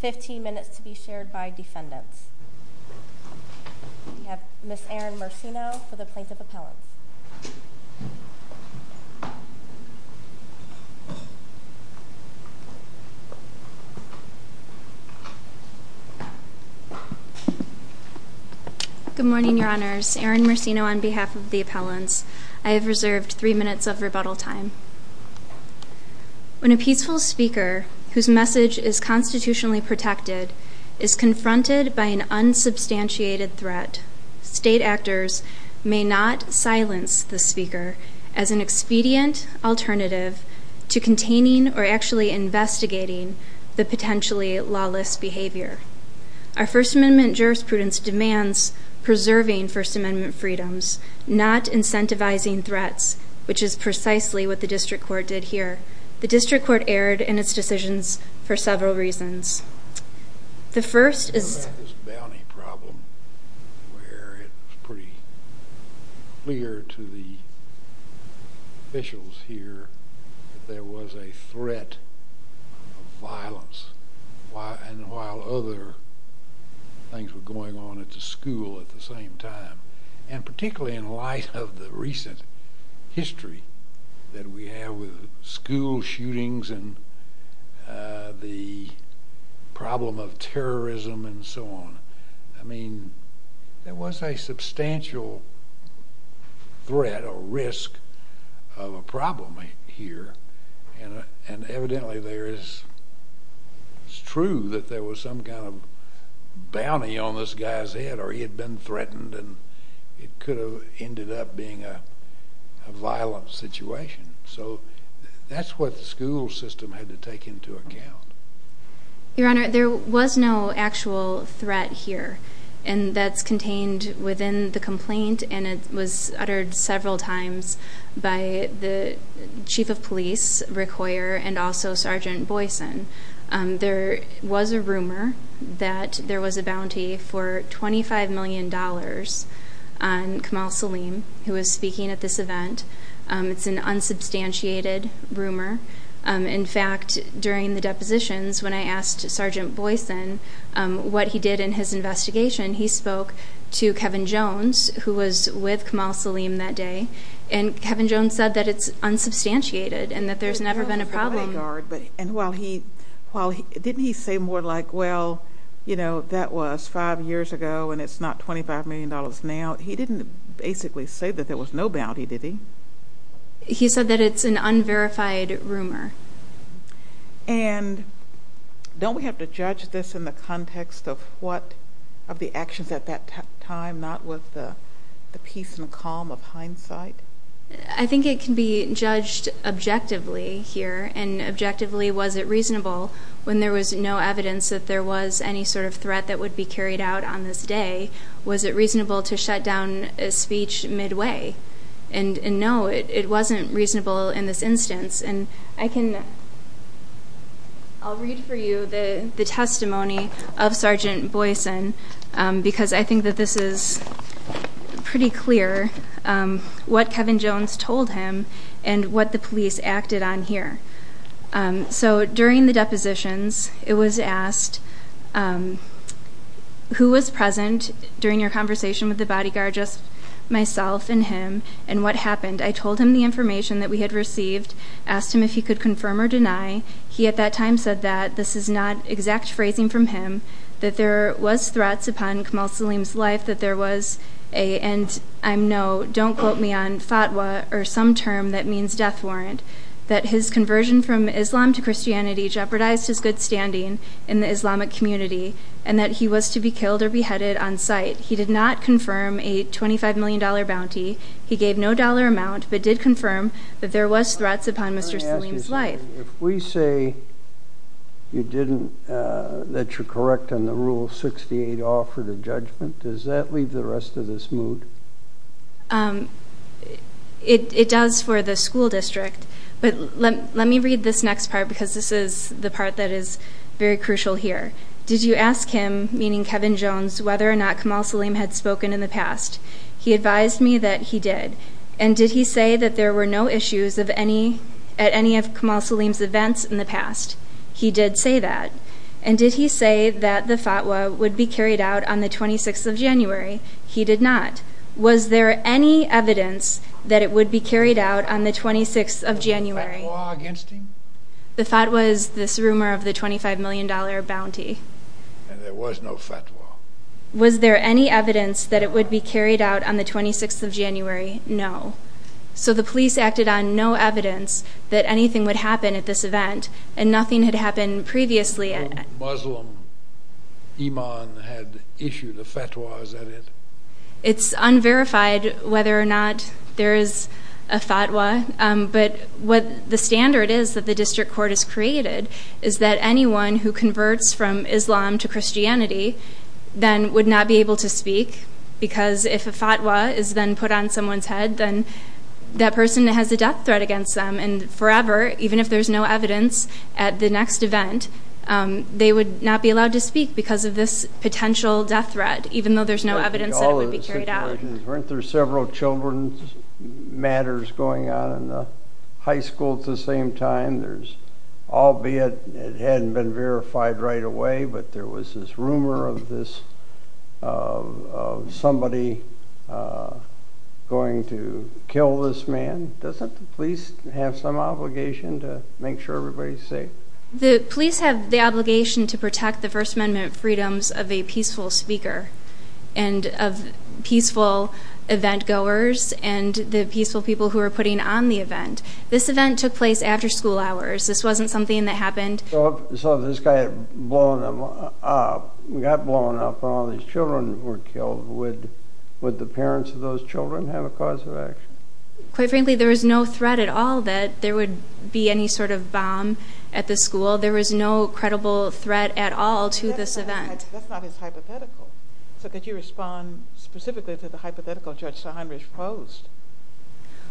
15 minutes to be shared by defendants. We have Ms. Erin Mercino for the plaintiff appellants. Good morning, your honors. Erin Mercino on behalf of the appellants. I have reserved three minutes of rebuttal time. When a peaceful speaker, whose message is constitutionally protected, is confronted by an unsubstantiated threat, state actors may not silence the speaker as an expedient alternative to containing or actually investigating the potentially lawless behavior. Our First Amendment jurisprudence demands preserving First Amendment freedoms, not incentivizing threats, which is precisely what the district court did here. The district court erred in its decisions for several reasons. I was thinking about this bounty problem where it was pretty clear to the officials here that there was a threat of violence, and while other things were going on at the school at the same time. And particularly in light of the recent history that we have with school shootings and the problem of terrorism and so on. I mean, there was a substantial threat or risk of a problem here, and evidently it's true that there was some kind of bounty on this guy's head or he had been threatened and it could have ended up being a violent situation. So that's what the school system had to take into account. Your Honor, there was no actual threat here, and that's contained within the complaint, and it was uttered several times by the chief of police, Rick Hoyer, and also Sergeant Boyson. There was a rumor that there was a bounty for $25 million on Kamal Saleem, who was speaking at this event. It's an unsubstantiated rumor. In fact, during the depositions, when I asked Sergeant Boyson what he did in his investigation, he spoke to Kevin Jones, who was with Kamal Saleem that day, and Kevin Jones said that it's unsubstantiated and that there's never been a problem. And didn't he say more like, well, you know, that was five years ago and it's not $25 million now? He didn't basically say that there was no bounty, did he? He said that it's an unverified rumor. And don't we have to judge this in the context of what of the actions at that time, not with the peace and calm of hindsight? I think it can be judged objectively here, and objectively, was it reasonable, when there was no evidence that there was any sort of threat that would be carried out on this day, was it reasonable to shut down a speech midway? And no, it wasn't reasonable in this instance. And I'll read for you the testimony of Sergeant Boyson, because I think that this is pretty clear, what Kevin Jones told him and what the police acted on here. So during the depositions, it was asked, who was present during your conversation with the bodyguard, just myself and him, and what happened? I told him the information that we had received, asked him if he could confirm or deny. He at that time said that this is not exact phrasing from him, that there was threats upon Kamal Saleem's life, that there was a, and I know, don't quote me on fatwa or some term that means death warrant, that his conversion from Islam to Christianity jeopardized his good standing in the Islamic community, and that he was to be killed or beheaded on sight. He did not confirm a $25 million bounty. He gave no dollar amount, but did confirm that there was threats upon Mr. Saleem's life. If we say you didn't, that you're correct on the Rule 68 offer to judgment, does that leave the rest of this moot? It does for the school district, but let me read this next part, because this is the part that is very crucial here. Did you ask him, meaning Kevin Jones, whether or not Kamal Saleem had spoken in the past? He advised me that he did. And did he say that there were no issues at any of Kamal Saleem's events in the past? He did say that. And did he say that the fatwa would be carried out on the 26th of January? He did not. Was there any evidence that it would be carried out on the 26th of January? Was there a fatwa against him? The fatwa is this rumor of the $25 million bounty. And there was no fatwa. Was there any evidence that it would be carried out on the 26th of January? No. So the police acted on no evidence that anything would happen at this event, and nothing had happened previously. A Muslim imam had issued a fatwa, is that it? It's unverified whether or not there is a fatwa. But what the standard is that the district court has created is that anyone who converts from Islam to Christianity then would not be able to speak because if a fatwa is then put on someone's head, then that person has a death threat against them. And forever, even if there's no evidence at the next event, they would not be allowed to speak because of this potential death threat, even though there's no evidence that it would be carried out. Weren't there several children's matters going on in the high school at the same time? There's, albeit it hadn't been verified right away, but there was this rumor of somebody going to kill this man. Doesn't the police have some obligation to make sure everybody's safe? The police have the obligation to protect the First Amendment freedoms of a peaceful speaker and of peaceful event-goers and the peaceful people who are putting on the event. This event took place after school hours. This wasn't something that happened. So if this guy got blown up and all these children were killed, would the parents of those children have a cause of action? Quite frankly, there was no threat at all that there would be any sort of bomb at the school. There was no credible threat at all to this event. That's not as hypothetical. So could you respond specifically to the hypothetical Judge Saunders posed?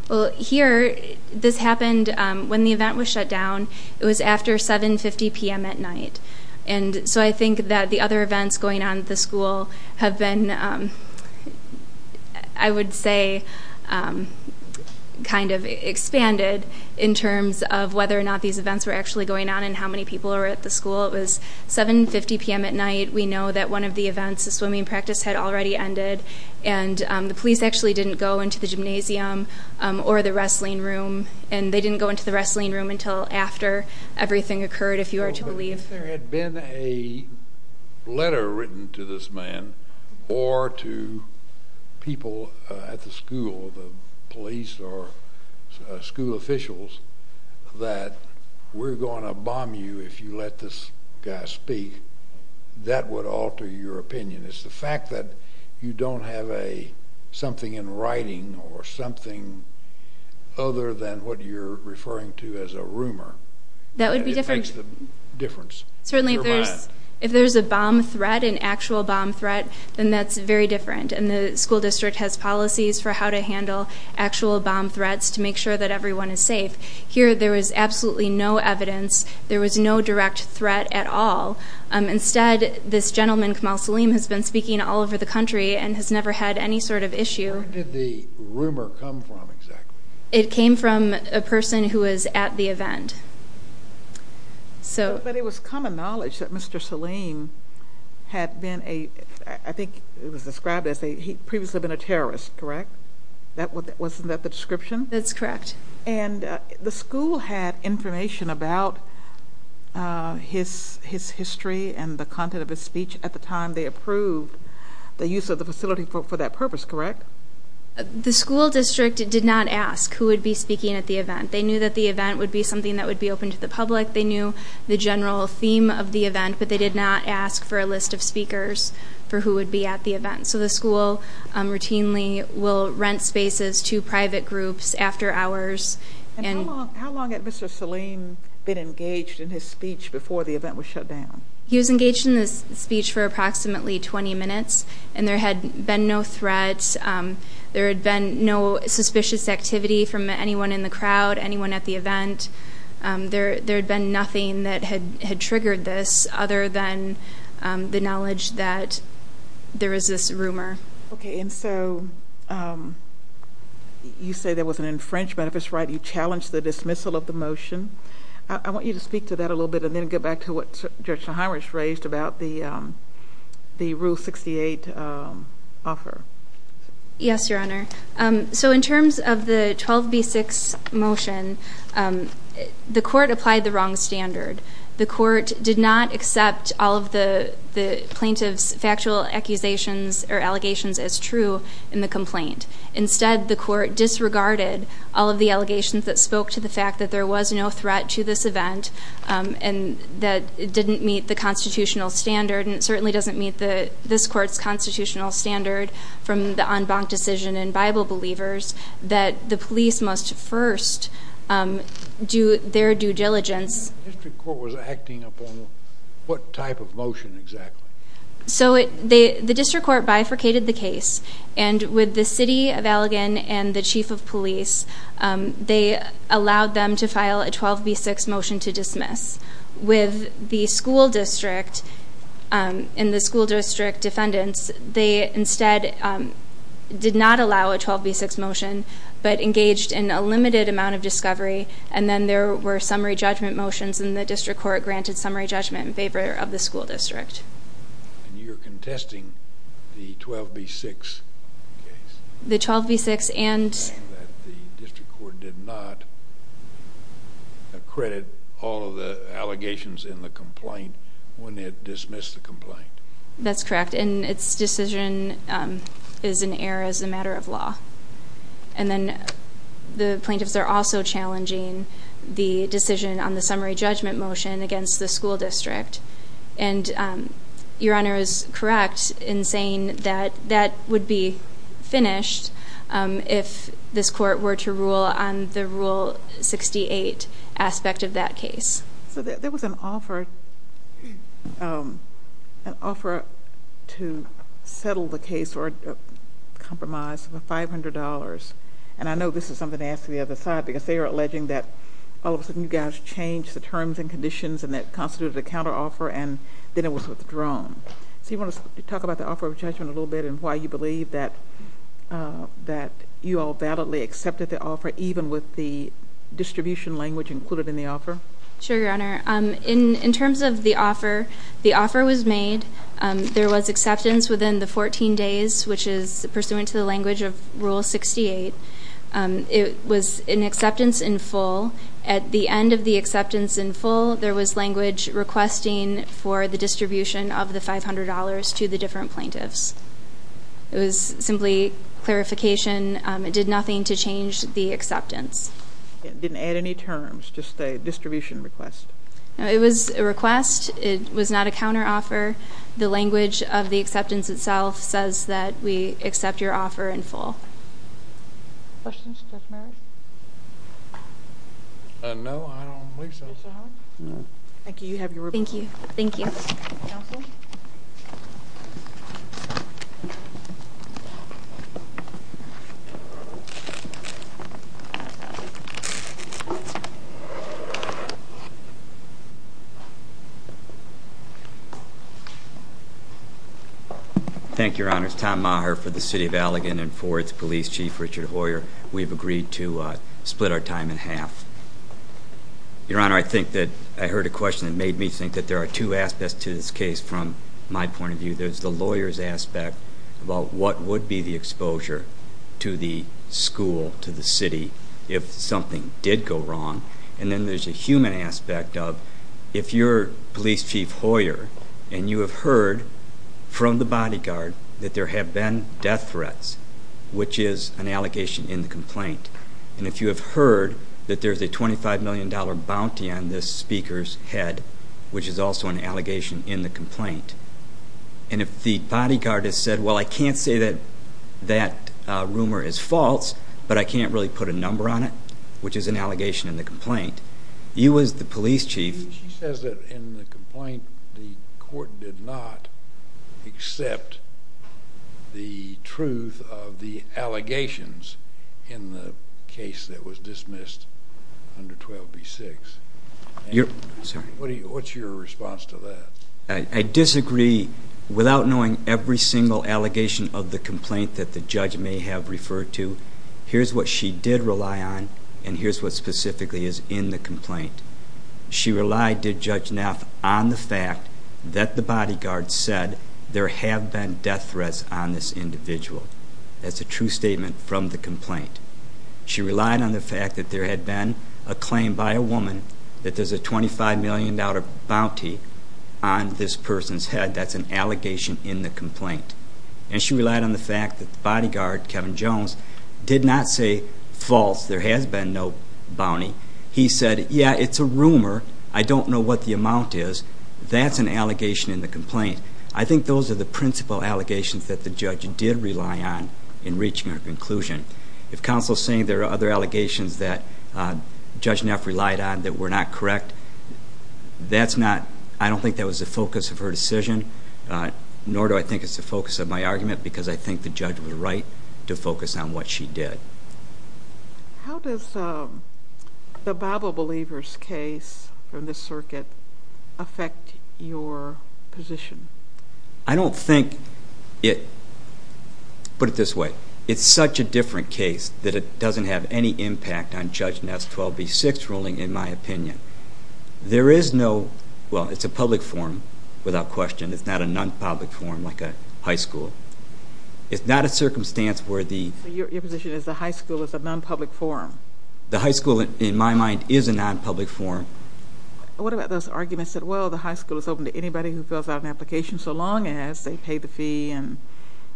Well, here, this happened when the event was shut down. It was after 7.50 p.m. at night. So I think that the other events going on at the school have been, I would say, kind of expanded in terms of whether or not these events were actually going on and how many people were at the school. It was 7.50 p.m. at night. We know that one of the events, the swimming practice, had already ended, and the police actually didn't go into the gymnasium or the wrestling room, and they didn't go into the wrestling room until after everything occurred, if you were to believe. If there had been a letter written to this man or to people at the school, the police or school officials, that we're going to bomb you if you let this guy speak, that would alter your opinion. It's the fact that you don't have something in writing or something other than what you're referring to as a rumor that makes the difference. Certainly, if there's a bomb threat, an actual bomb threat, then that's very different, and the school district has policies for how to handle actual bomb threats to make sure that everyone is safe. Here, there was absolutely no evidence. There was no direct threat at all. Instead, this gentleman, Kamal Saleem, has been speaking all over the country and has never had any sort of issue. Where did the rumor come from, exactly? It came from a person who was at the event. But it was common knowledge that Mr. Saleem had been a, I think it was described as, he had previously been a terrorist, correct? Wasn't that the description? That's correct. And the school had information about his history and the content of his speech. At the time, they approved the use of the facility for that purpose, correct? They knew that the event would be something that would be open to the public. They knew the general theme of the event, but they did not ask for a list of speakers for who would be at the event. So the school routinely will rent spaces to private groups after hours. And how long had Mr. Saleem been engaged in his speech before the event was shut down? He was engaged in his speech for approximately 20 minutes, and there had been no threats. There had been no suspicious activity from anyone in the crowd, anyone at the event. There had been nothing that had triggered this other than the knowledge that there was this rumor. Okay. And so you say there was an infringement of his right. You challenged the dismissal of the motion. I want you to speak to that a little bit and then get back to what Judge Nahomish raised about the Rule 68 offer. Yes, Your Honor. So in terms of the 12B6 motion, the court applied the wrong standard. The court did not accept all of the plaintiff's factual accusations or allegations as true in the complaint. Instead, the court disregarded all of the allegations that spoke to the fact that there was no threat to this event and that it didn't meet the constitutional standard, and it certainly doesn't meet this court's constitutional standard from the en banc decision in Bible Believers that the police must first do their due diligence. The district court was acting upon what type of motion exactly? So the district court bifurcated the case, and with the city of Allegan and the chief of police, they allowed them to file a 12B6 motion to dismiss. With the school district and the school district defendants, they instead did not allow a 12B6 motion but engaged in a limited amount of discovery, and then there were summary judgment motions, and the district court granted summary judgment in favor of the school district. And you're contesting the 12B6 case? The 12B6 and? That the district court did not accredit all of the allegations in the complaint when it dismissed the complaint. That's correct, and its decision is in error as a matter of law. And then the plaintiffs are also challenging the decision on the summary judgment motion against the school district, and Your Honor is correct in saying that that would be finished if this court were to rule on the Rule 68 aspect of that case. So there was an offer to settle the case or compromise for $500, and I know this is something to ask the other side because they are alleging that all of a sudden you guys changed the terms and conditions and that constituted a counteroffer and then it was withdrawn. So you want to talk about the offer of judgment a little bit and why you believe that you all validly accepted the offer, even with the distribution language included in the offer? Sure, Your Honor. In terms of the offer, the offer was made. There was acceptance within the 14 days, which is pursuant to the language of Rule 68. It was an acceptance in full. At the end of the acceptance in full, there was language requesting for the distribution of the $500 to the different plaintiffs. It was simply clarification. It did nothing to change the acceptance. It didn't add any terms, just a distribution request? No, it was a request. It was not a counteroffer. The language of the acceptance itself says that we accept your offer in full. Questions? Judge Merrick? No, I don't believe so. Mr. Howard? No. Thank you. You have your report. Thank you. Thank you. Counsel? Thank you. Thank you, Your Honor. It's Tom Maher for the City of Allegan and for its Police Chief, Richard Hoyer. We've agreed to split our time in half. Your Honor, I think that I heard a question that made me think that there are two aspects to this case from my point of view. There's the lawyer's aspect about what would be the exposure to the school, to the city, if something did go wrong. And then there's the human aspect of if you're Police Chief Hoyer and you have heard from the bodyguard that there have been death threats, which is an allegation in the complaint. And if you have heard that there's a $25 million bounty on this speaker's head, which is also an allegation in the complaint. And if the bodyguard has said, well, I can't say that that rumor is false, but I can't really put a number on it, which is an allegation in the complaint. You as the Police Chief... that was dismissed under 12B6. What's your response to that? I disagree. Without knowing every single allegation of the complaint that the judge may have referred to, here's what she did rely on and here's what specifically is in the complaint. She relied, did Judge Neff, on the fact that the bodyguard said there have been death threats on this individual. That's a true statement from the complaint. She relied on the fact that there had been a claim by a woman that there's a $25 million bounty on this person's head. That's an allegation in the complaint. And she relied on the fact that the bodyguard, Kevin Jones, did not say false. There has been no bounty. He said, yeah, it's a rumor. I don't know what the amount is. That's an allegation in the complaint. I think those are the principal allegations that the judge did rely on in reaching her conclusion. If counsel is saying there are other allegations that Judge Neff relied on that were not correct, that's not, I don't think that was the focus of her decision, nor do I think it's the focus of my argument because I think the judge was right to focus on what she did. How does the Bible Believers case from this circuit affect your position? I don't think it, put it this way, it's such a different case that it doesn't have any impact on Judge Neff's 12B6 ruling, in my opinion. There is no, well, it's a public forum without question. It's not a non-public forum like a high school. It's not a circumstance where the... So your position is the high school is a non-public forum? The high school, in my mind, is a non-public forum. What about those arguments that, well, the high school is open to anybody who fills out an application so long as they pay the fee and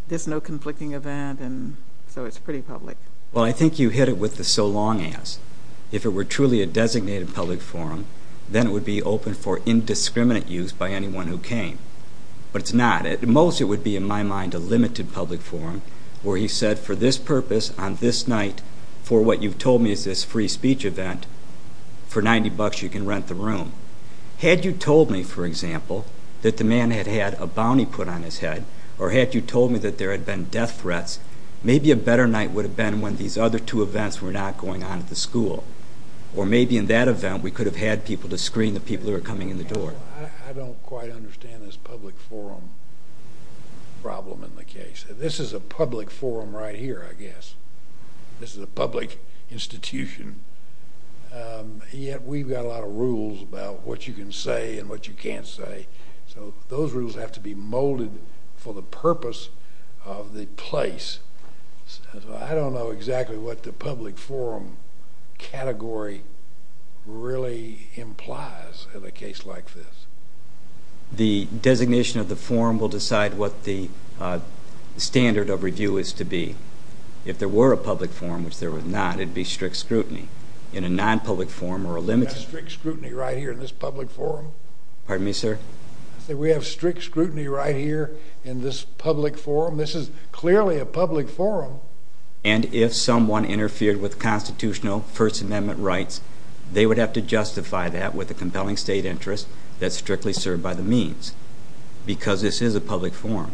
there's no conflicting event and so it's pretty public? Well, I think you hit it with the so long as. If it were truly a designated public forum, then it would be open for indiscriminate use by anyone who came. But it's not. At most it would be, in my mind, a limited public forum where he said, for this purpose on this night for what you've told me is this free speech event, for 90 bucks you can rent the room. Had you told me, for example, that the man had had a bounty put on his head or had you told me that there had been death threats, maybe a better night would have been when these other two events were not going on at the school. Or maybe in that event we could have had people to screen the people who were coming in the door. Well, I don't quite understand this public forum problem in the case. This is a public forum right here, I guess. This is a public institution. Yet we've got a lot of rules about what you can say and what you can't say. So those rules have to be molded for the purpose of the place. I don't know exactly what the public forum category really implies in a case like this. The designation of the forum will decide what the standard of review is to be. If there were a public forum, which there was not, it would be strict scrutiny. In a non-public forum or a limited one. We have strict scrutiny right here in this public forum? Pardon me, sir? We have strict scrutiny right here in this public forum? This is clearly a public forum. And if someone interfered with constitutional First Amendment rights, they would have to justify that with a compelling state interest that's strictly served by the means. Because this is a public forum.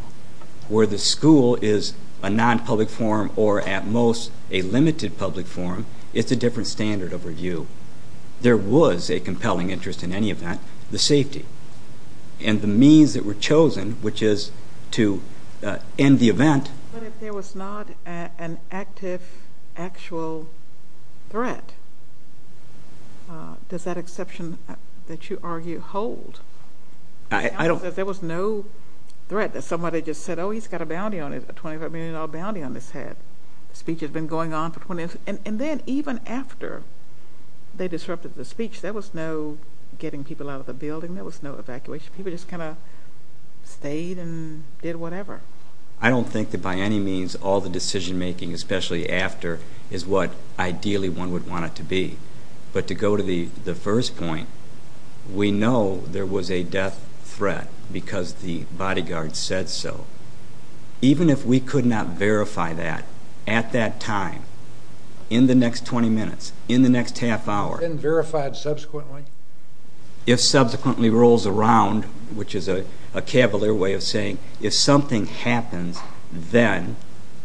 Where the school is a non-public forum or at most a limited public forum, it's a different standard of review. There was a compelling interest in any event, the safety. And the means that were chosen, which is to end the event. But if there was not an active, actual threat, does that exception that you argue hold? There was no threat. Somebody just said, oh, he's got a bounty on his head, a $25 million bounty on his head. The speech has been going on for 20 years. And then even after they disrupted the speech, there was no getting people out of the building. There was no evacuation. People just kind of stayed and did whatever. I don't think that by any means all the decision making, especially after, is what ideally one would want it to be. But to go to the first point, we know there was a death threat because the bodyguard said so. Even if we could not verify that at that time, in the next 20 minutes, in the next half hour. And verified subsequently? If subsequently rolls around, which is a cavalier way of saying, if something happens then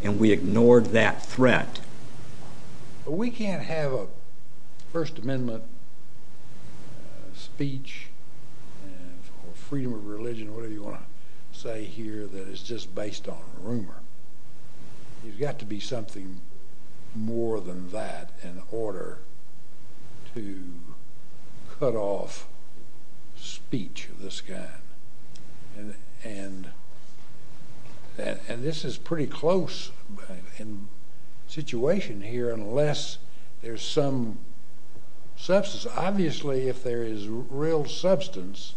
and we ignored that threat. We can't have a First Amendment speech or freedom of religion or whatever you want to say here that is just based on rumor. There's got to be something more than that in order to cut off speech of this kind. And this is pretty close in situation here unless there's some substance. Because obviously if there is real substance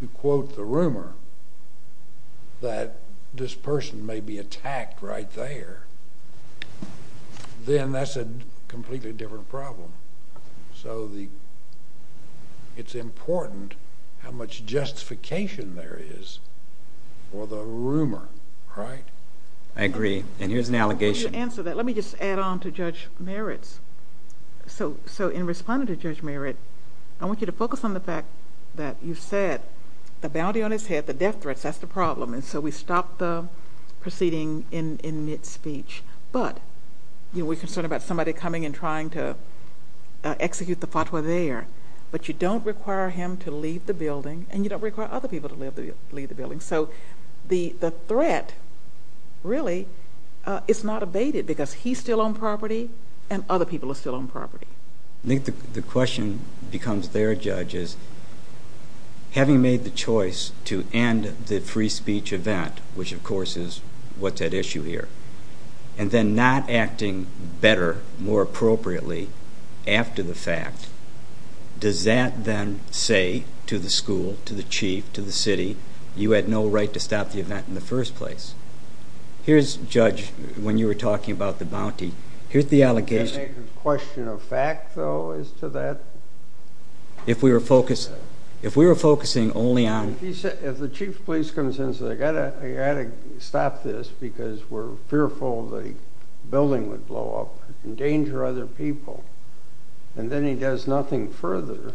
to quote the rumor that this person may be attacked right there, then that's a completely different problem. So it's important how much justification there is for the rumor, right? I agree. And here's an allegation. Let me just add on to Judge Meritz. So in responding to Judge Meritz, I want you to focus on the fact that you said the bounty on his head, the death threat, that's the problem. And so we stopped the proceeding in mid-speech. But we're concerned about somebody coming and trying to execute the fatwa there. But you don't require him to leave the building and you don't require other people to leave the building. So the threat really is not abated because he's still on property and other people are still on property. I think the question becomes there, Judge, is having made the choice to end the free speech event, which of course is what's at issue here, and then not acting better, more appropriately, after the fact, does that then say to the school, to the chief, to the city, you had no right to stop the event in the first place? Here's, Judge, when you were talking about the bounty, here's the allegation. Is there a question of fact, though, as to that? If we were focusing only on... If the chief of police comes in and says, I've got to stop this because we're fearful the building would blow up and endanger other people, and then he does nothing further,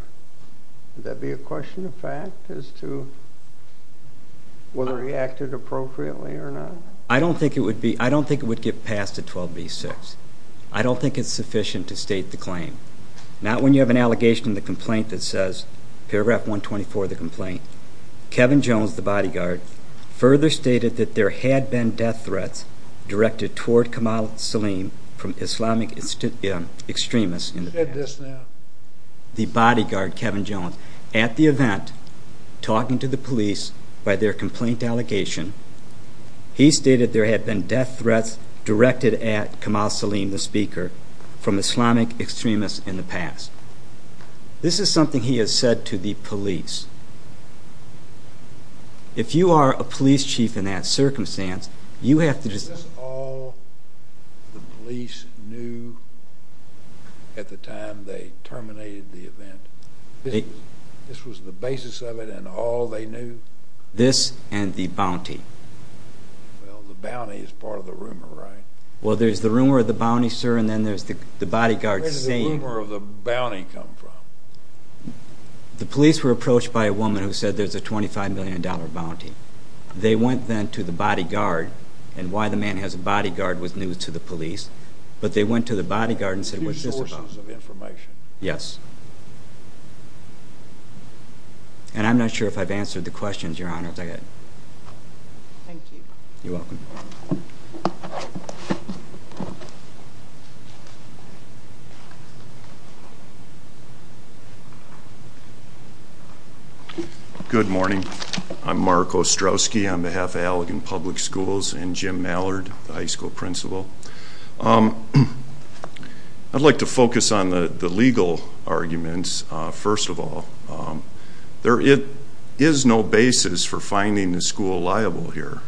would that be a question of fact as to whether he acted appropriately or not? I don't think it would get past a 12b-6. I don't think it's sufficient to state the claim. Not when you have an allegation in the complaint that says, paragraph 124 of the complaint, Kevin Jones, the bodyguard, further stated that there had been death threats directed toward Kamal Saleem from Islamic extremists in the past. The bodyguard, Kevin Jones, at the event, talking to the police by their complaint allegation, he stated there had been death threats directed at Kamal Saleem, the speaker, from Islamic extremists in the past. This is something he has said to the police. If you are a police chief in that circumstance, you have to just... Is this all the police knew at the time they terminated the event? This was the basis of it and all they knew? This and the bounty. Well, the bounty is part of the rumor, right? Well, there's the rumor of the bounty, sir, and then there's the bodyguard saying... Where did the rumor of the bounty come from? The police were approached by a woman who said there's a $25 million bounty. They went then to the bodyguard, and why the man has a bodyguard was new to the police, but they went to the bodyguard and said, what's this about? A few sources of information. Yes. And I'm not sure if I've answered the questions, Your Honor. Thank you. You're welcome. Good morning. I'm Mark Ostrowski on behalf of Allegan Public Schools and Jim Mallard, the high school principal. I'd like to focus on the legal arguments, first of all. There is no basis for finding the school liable here.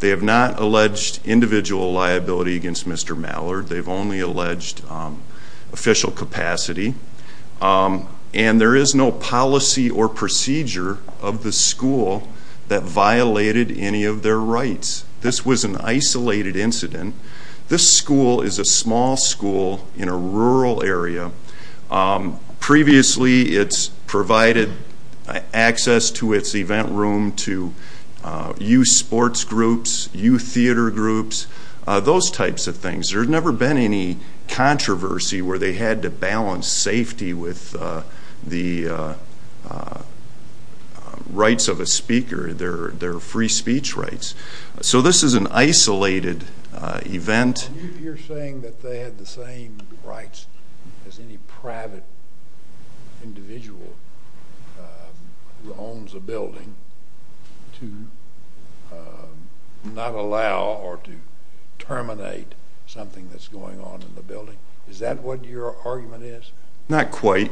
They have not alleged individual liability against Mr. Mallard. They've only alleged official capacity. And there is no policy or procedure of the school that violated any of their rights. This was an isolated incident. This school is a small school in a rural area. Previously, it's provided access to its event room to youth sports groups, youth theater groups, those types of things. There's never been any controversy where they had to balance safety with the rights of a speaker, their free speech rights. So this is an isolated event. You're saying that they had the same rights as any private individual who owns a building to not allow or to terminate something that's going on in the building. Is that what your argument is? Not quite.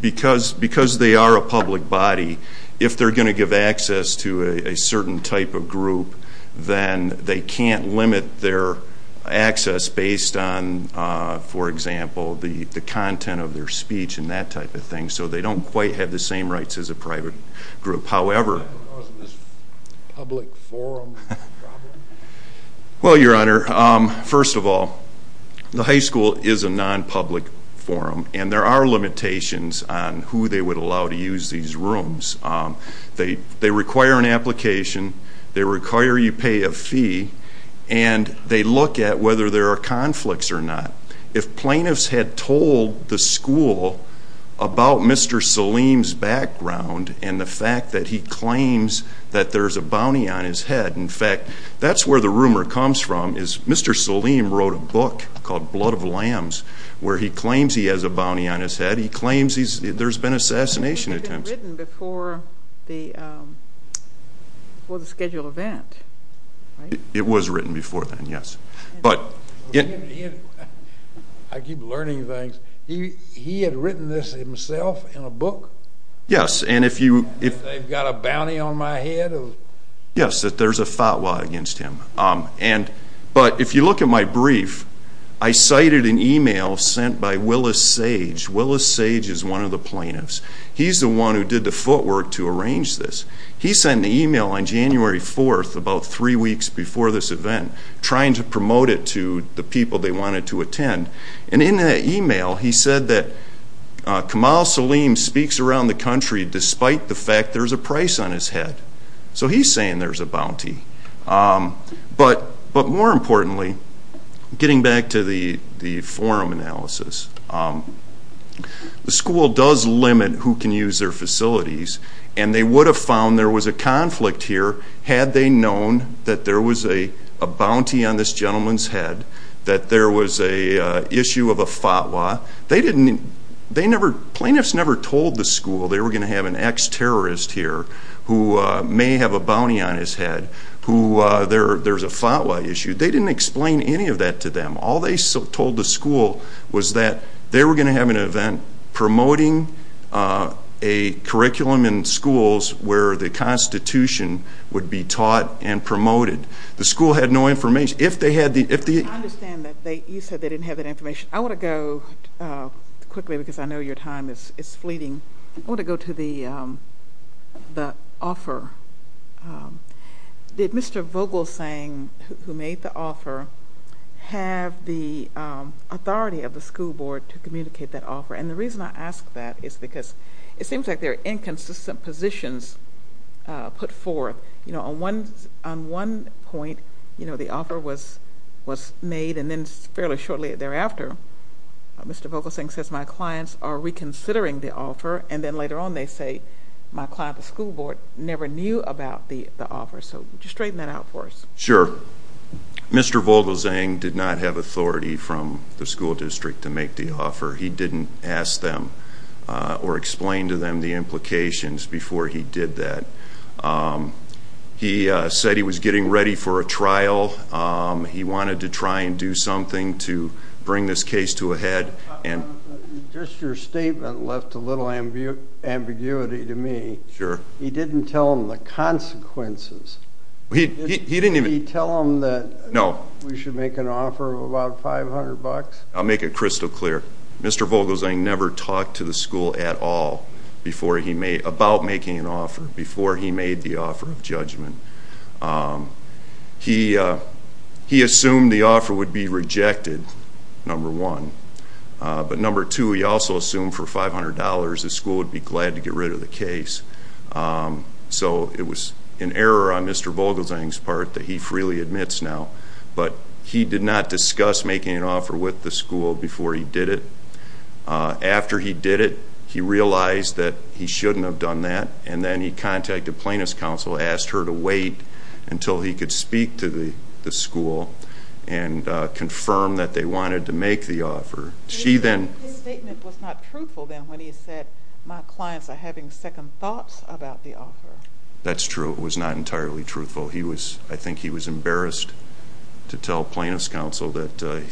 Because they are a public body, if they're going to give access to a certain type of group, then they can't limit their access based on, for example, the content of their speech and that type of thing. So they don't quite have the same rights as a private group. However— Because of this public forum problem? Well, Your Honor, first of all, the high school is a non-public forum. And there are limitations on who they would allow to use these rooms. They require an application. They require you pay a fee. And they look at whether there are conflicts or not. If plaintiffs had told the school about Mr. Saleem's background and the fact that he claims that there's a bounty on his head— in fact, that's where the rumor comes from is Mr. Saleem wrote a book called Blood of Lambs where he claims he has a bounty on his head. He claims there's been assassination attempts. But it had been written before the scheduled event, right? It was written before then, yes. But— I keep learning things. He had written this himself in a book? Yes, and if you— They've got a bounty on my head? Yes, that there's a fatwa against him. But if you look at my brief, I cited an email sent by Willis Sage. Willis Sage is one of the plaintiffs. He's the one who did the footwork to arrange this. He sent an email on January 4th, about three weeks before this event, trying to promote it to the people they wanted to attend. And in that email, he said that Kamal Saleem speaks around the country despite the fact there's a price on his head. So he's saying there's a bounty. But more importantly, getting back to the forum analysis, the school does limit who can use their facilities, and they would have found there was a conflict here had they known that there was a bounty on this gentleman's head, that there was an issue of a fatwa. They didn't—they never—plaintiffs never told the school they were going to have an ex-terrorist here who may have a bounty on his head. There's a fatwa issue. They didn't explain any of that to them. All they told the school was that they were going to have an event promoting a curriculum in schools where the Constitution would be taught and promoted. The school had no information. I understand that you said they didn't have that information. I want to go quickly because I know your time is fleeting. I want to go to the offer. Did Mr. Vogelsang, who made the offer, have the authority of the school board to communicate that offer? And the reason I ask that is because it seems like there are inconsistent positions put forth. On one point, the offer was made, and then fairly shortly thereafter, Mr. Vogelsang says, my clients are reconsidering the offer, and then later on they say, my client, the school board, never knew about the offer. So just straighten that out for us. Sure. Mr. Vogelsang did not have authority from the school district to make the offer. He didn't ask them or explain to them the implications before he did that. He said he was getting ready for a trial. He wanted to try and do something to bring this case to a head. Just your statement left a little ambiguity to me. Sure. He didn't tell them the consequences. Did he tell them that we should make an offer of about $500? I'll make it crystal clear. Mr. Vogelsang never talked to the school at all about making an offer before he made the offer of judgment. He assumed the offer would be rejected, number one. But number two, he also assumed for $500 the school would be glad to get rid of the case. So it was an error on Mr. Vogelsang's part that he freely admits now. But he did not discuss making an offer with the school before he did it. After he did it, he realized that he shouldn't have done that, and then he contacted Plaintiff's Counsel, asked her to wait until he could speak to the school and confirm that they wanted to make the offer. His statement was not truthful then when he said, my clients are having second thoughts about the offer. That's true. It was not entirely truthful. I think he was embarrassed to tell Plaintiff's Counsel that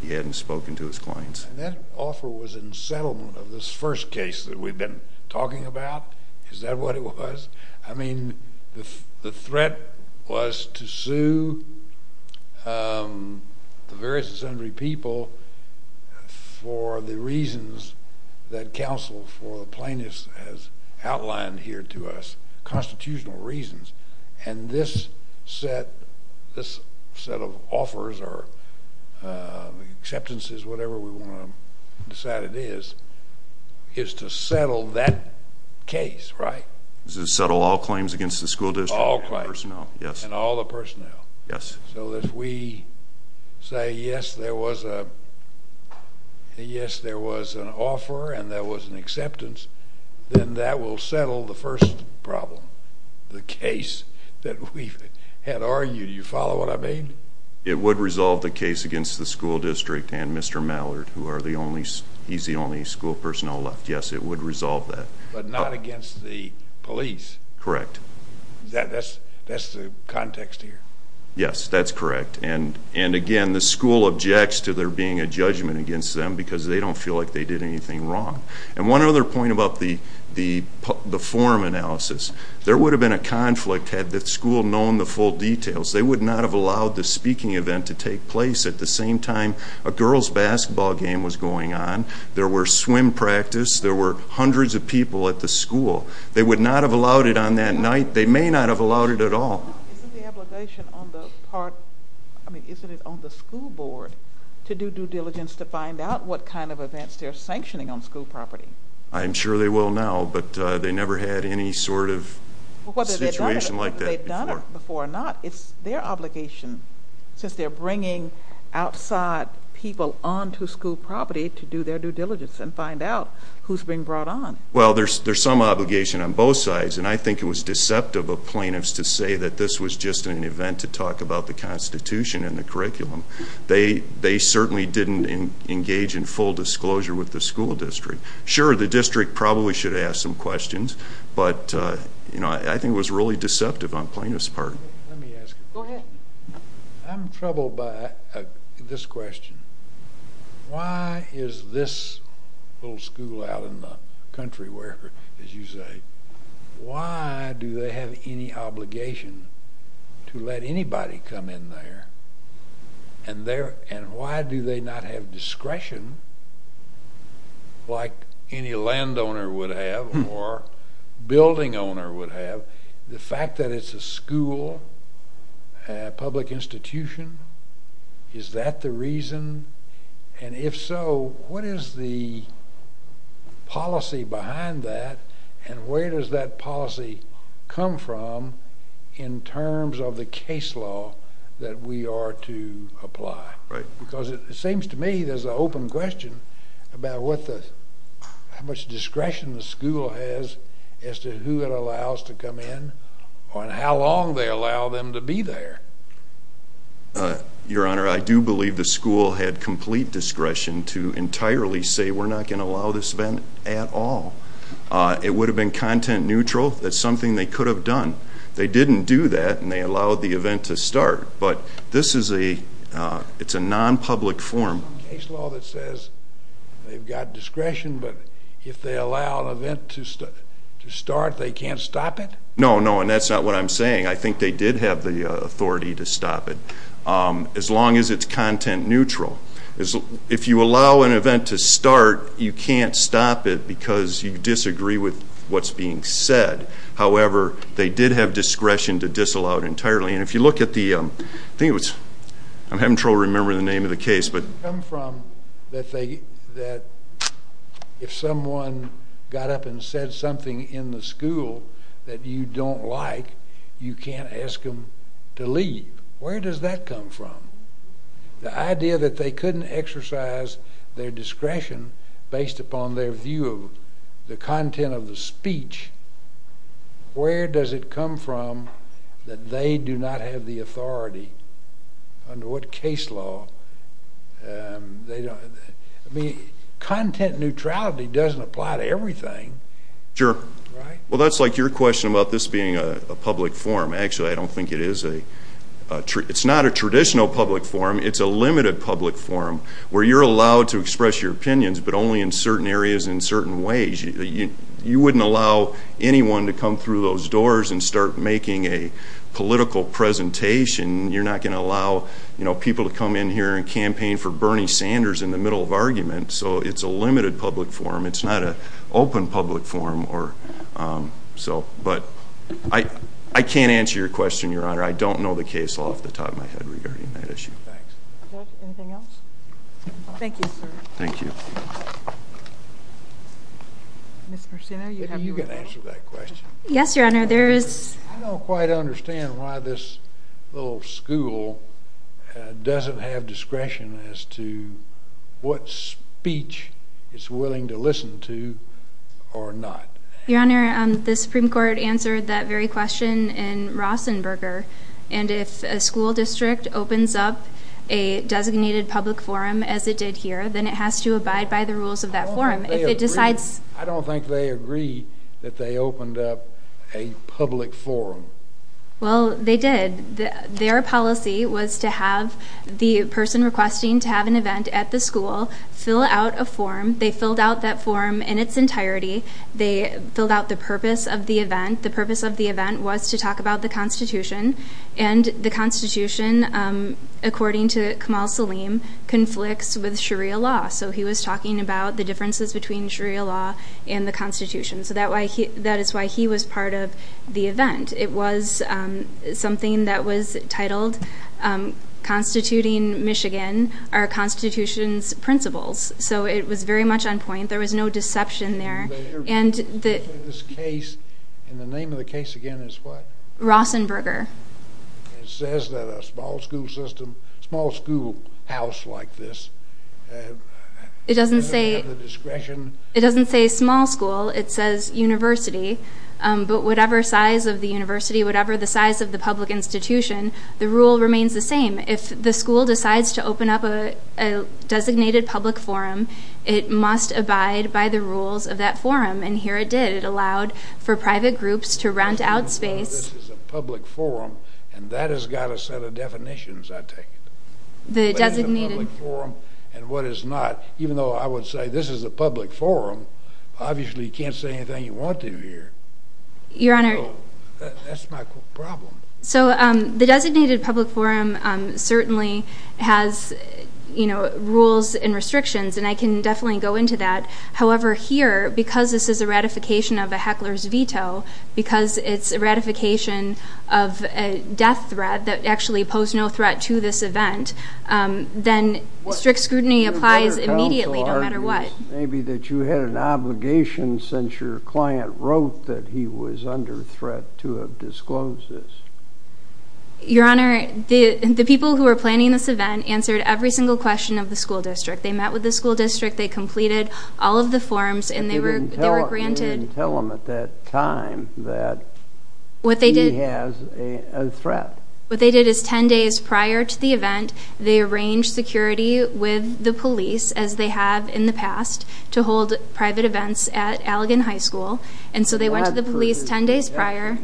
he hadn't spoken to his clients. That offer was in settlement of this first case that we've been talking about. Is that what it was? I mean, the threat was to sue the various and sundry people for the reasons that Counsel for the Plaintiffs has outlined here to us, constitutional reasons. And this set of offers or acceptances, whatever we want to decide it is, is to settle that case, right? To settle all claims against the school district. All claims. And all the personnel. Yes. So if we say, yes, there was an offer and there was an acceptance, then that will settle the first problem, the case that we had argued. Do you follow what I mean? It would resolve the case against the school district and Mr. Mallard, who he's the only school personnel left. Yes, it would resolve that. But not against the police. Correct. That's the context here? Yes, that's correct. And again, the school objects to there being a judgment against them because they don't feel like they did anything wrong. And one other point about the form analysis. There would have been a conflict had the school known the full details. They would not have allowed the speaking event to take place at the same time a girls' basketball game was going on. There were swim practice. There were hundreds of people at the school. They would not have allowed it on that night. They may not have allowed it at all. Isn't the obligation on the school board to do due diligence to find out what kind of events they're sanctioning on school property? I'm sure they will now, but they never had any sort of situation like that before. Whether they've done it before or not, it's their obligation, since they're bringing outside people onto school property to do their due diligence and find out who's being brought on. Well, there's some obligation on both sides, and I think it was deceptive of plaintiffs to say that this was just an event to talk about the Constitution and the curriculum. They certainly didn't engage in full disclosure with the school district. Sure, the district probably should have asked some questions, but I think it was really deceptive on plaintiffs' part. Go ahead. I'm troubled by this question. Why is this little school out in the country where, as you say, why do they have any obligation to let anybody come in there, and why do they not have discretion like any landowner would have or building owner would have? The fact that it's a school, a public institution, is that the reason? And if so, what is the policy behind that, and where does that policy come from in terms of the case law that we are to apply? Because it seems to me there's an open question about how much discretion the school has as to who it allows to come in and how long they allow them to be there. Your Honor, I do believe the school had complete discretion to entirely say we're not going to allow this event at all. It would have been content neutral. That's something they could have done. They didn't do that, and they allowed the event to start, but this is a nonpublic forum. There's a case law that says they've got discretion, but if they allow an event to start, they can't stop it? No, no, and that's not what I'm saying. I think they did have the authority to stop it, as long as it's content neutral. If you allow an event to start, you can't stop it because you disagree with what's being said. However, they did have discretion to disallow it entirely. I'm having trouble remembering the name of the case. Where does it come from that if someone got up and said something in the school that you don't like, you can't ask them to leave? Where does that come from? The idea that they couldn't exercise their discretion based upon their view of the content of the speech, where does it come from that they do not have the authority under what case law? Content neutrality doesn't apply to everything. Sure. Well, that's like your question about this being a public forum. Actually, I don't think it is. It's not a traditional public forum. It's a limited public forum where you're allowed to express your opinions, but only in certain areas and in certain ways. You wouldn't allow anyone to come through those doors and start making a political presentation. You're not going to allow people to come in here and campaign for Bernie Sanders in the middle of argument. So it's a limited public forum. It's not an open public forum. I can't answer your question, Your Honor. I don't know the case law off the top of my head regarding that issue. Anything else? Thank you, sir. Thank you. You can answer that question. Yes, Your Honor. I don't quite understand why this little school doesn't have discretion as to what speech it's willing to listen to or not. Your Honor, the Supreme Court answered that very question in Rosenberger, and if a school district opens up a designated public forum as it did here, then it has to abide by the rules of that forum. I don't think they agree that they opened up a public forum. Well, they did. Their policy was to have the person requesting to have an event at the school fill out a form. They filled out that form in its entirety. They filled out the purpose of the event. The purpose of the event was to talk about the Constitution, and the Constitution, according to Kamal Saleem, conflicts with Sharia law. So he was talking about the differences between Sharia law and the Constitution. So that is why he was part of the event. It was something that was titled, Constituting Michigan, Our Constitution's Principles. So it was very much on point. There was no deception there. But in this case, and the name of the case again is what? Rosenberger. It says that a small school system, small school house like this, it doesn't have the discretion. It doesn't say small school. It says university. But whatever size of the university, whatever the size of the public institution, the rule remains the same. If the school decides to open up a designated public forum, it must abide by the rules of that forum, and here it did. It allowed for private groups to rent out space. This is a public forum, and that has got a set of definitions, I take it. What is a public forum and what is not, even though I would say this is a public forum, obviously you can't say anything you want to here. Your Honor. That's my problem. So the designated public forum certainly has rules and restrictions, and I can definitely go into that. However, here, because this is a ratification of a heckler's veto, because it's a ratification of a death threat that actually posed no threat to this event, then strict scrutiny applies immediately no matter what. Maybe that you had an obligation since your client wrote that he was under threat to have disclosed this. Your Honor, the people who were planning this event answered every single question of the school district. They met with the school district. They completed all of the forms, and they were granted. But they didn't tell them at that time that he has a threat. What they did is 10 days prior to the event, they arranged security with the police, as they have in the past, to hold private events at Allegan High School. And so they went to the police 10 days prior.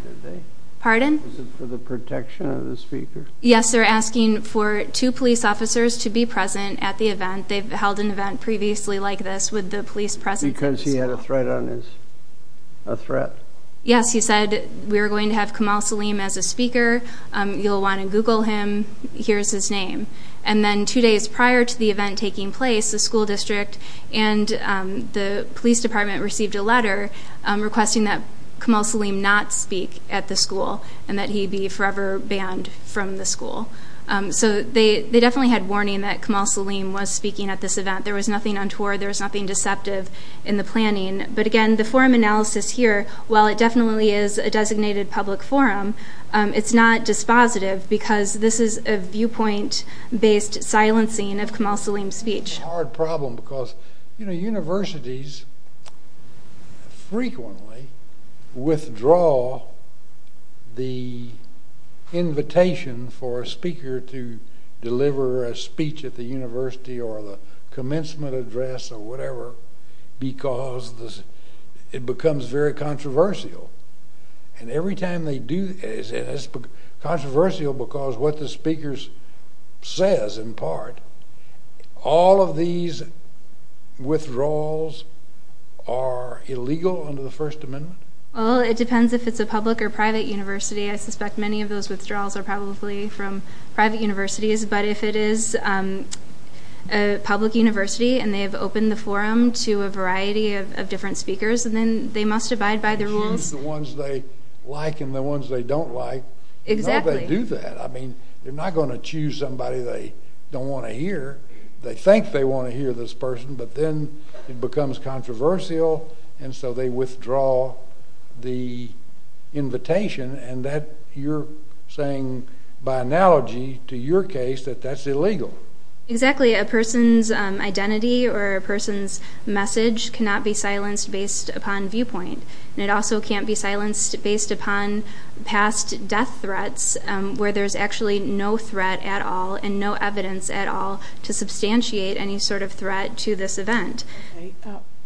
Pardon? Was it for the protection of the speaker? Yes, they're asking for two police officers to be present at the event. They've held an event previously like this with the police presence. Because he had a threat on his, a threat? Yes. He said, we're going to have Kamal Saleem as a speaker. You'll want to Google him. Here's his name. And then two days prior to the event taking place, the school district and the police department received a letter requesting that Kamal Saleem not speak at the school and that he be forever banned from the school. So they definitely had warning that Kamal Saleem was speaking at this event. There was nothing untoward. There was nothing deceptive in the planning. But, again, the forum analysis here, while it definitely is a designated public forum, it's not dispositive because this is a viewpoint-based silencing of Kamal Saleem's speech. It's a hard problem because, you know, universities frequently withdraw the invitation for a speaker to deliver a speech at the university or the commencement address or whatever because it becomes very controversial. And every time they do, it's controversial because what the speaker says in part, all of these withdrawals are illegal under the First Amendment? Well, it depends if it's a public or private university. I suspect many of those withdrawals are probably from private universities. But if it is a public university and they have opened the forum to a variety of different speakers, then they must abide by the rules. They choose the ones they like and the ones they don't like. Exactly. Nobody would do that. I mean, they're not going to choose somebody they don't want to hear. They think they want to hear this person, but then it becomes controversial, and so they withdraw the invitation. And you're saying, by analogy to your case, that that's illegal. Exactly. A person's identity or a person's message cannot be silenced based upon viewpoint, and it also can't be silenced based upon past death threats where there's actually no threat at all and no evidence at all to substantiate any sort of threat to this event. Okay.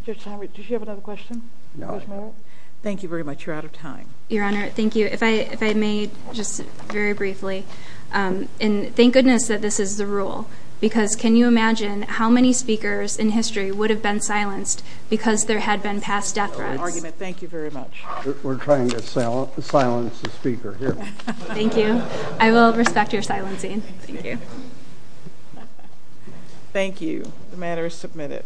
Judge Tomlinson, did you have another question? No. Thank you very much. You're out of time. Your Honor, thank you. If I may, just very briefly, thank goodness that this is the rule, because can you imagine how many speakers in history would have been silenced because there had been past death threats? Thank you very much. We're trying to silence the speaker here. Thank you. I will respect your silencing. Thank you. Thank you. The matter is submitted.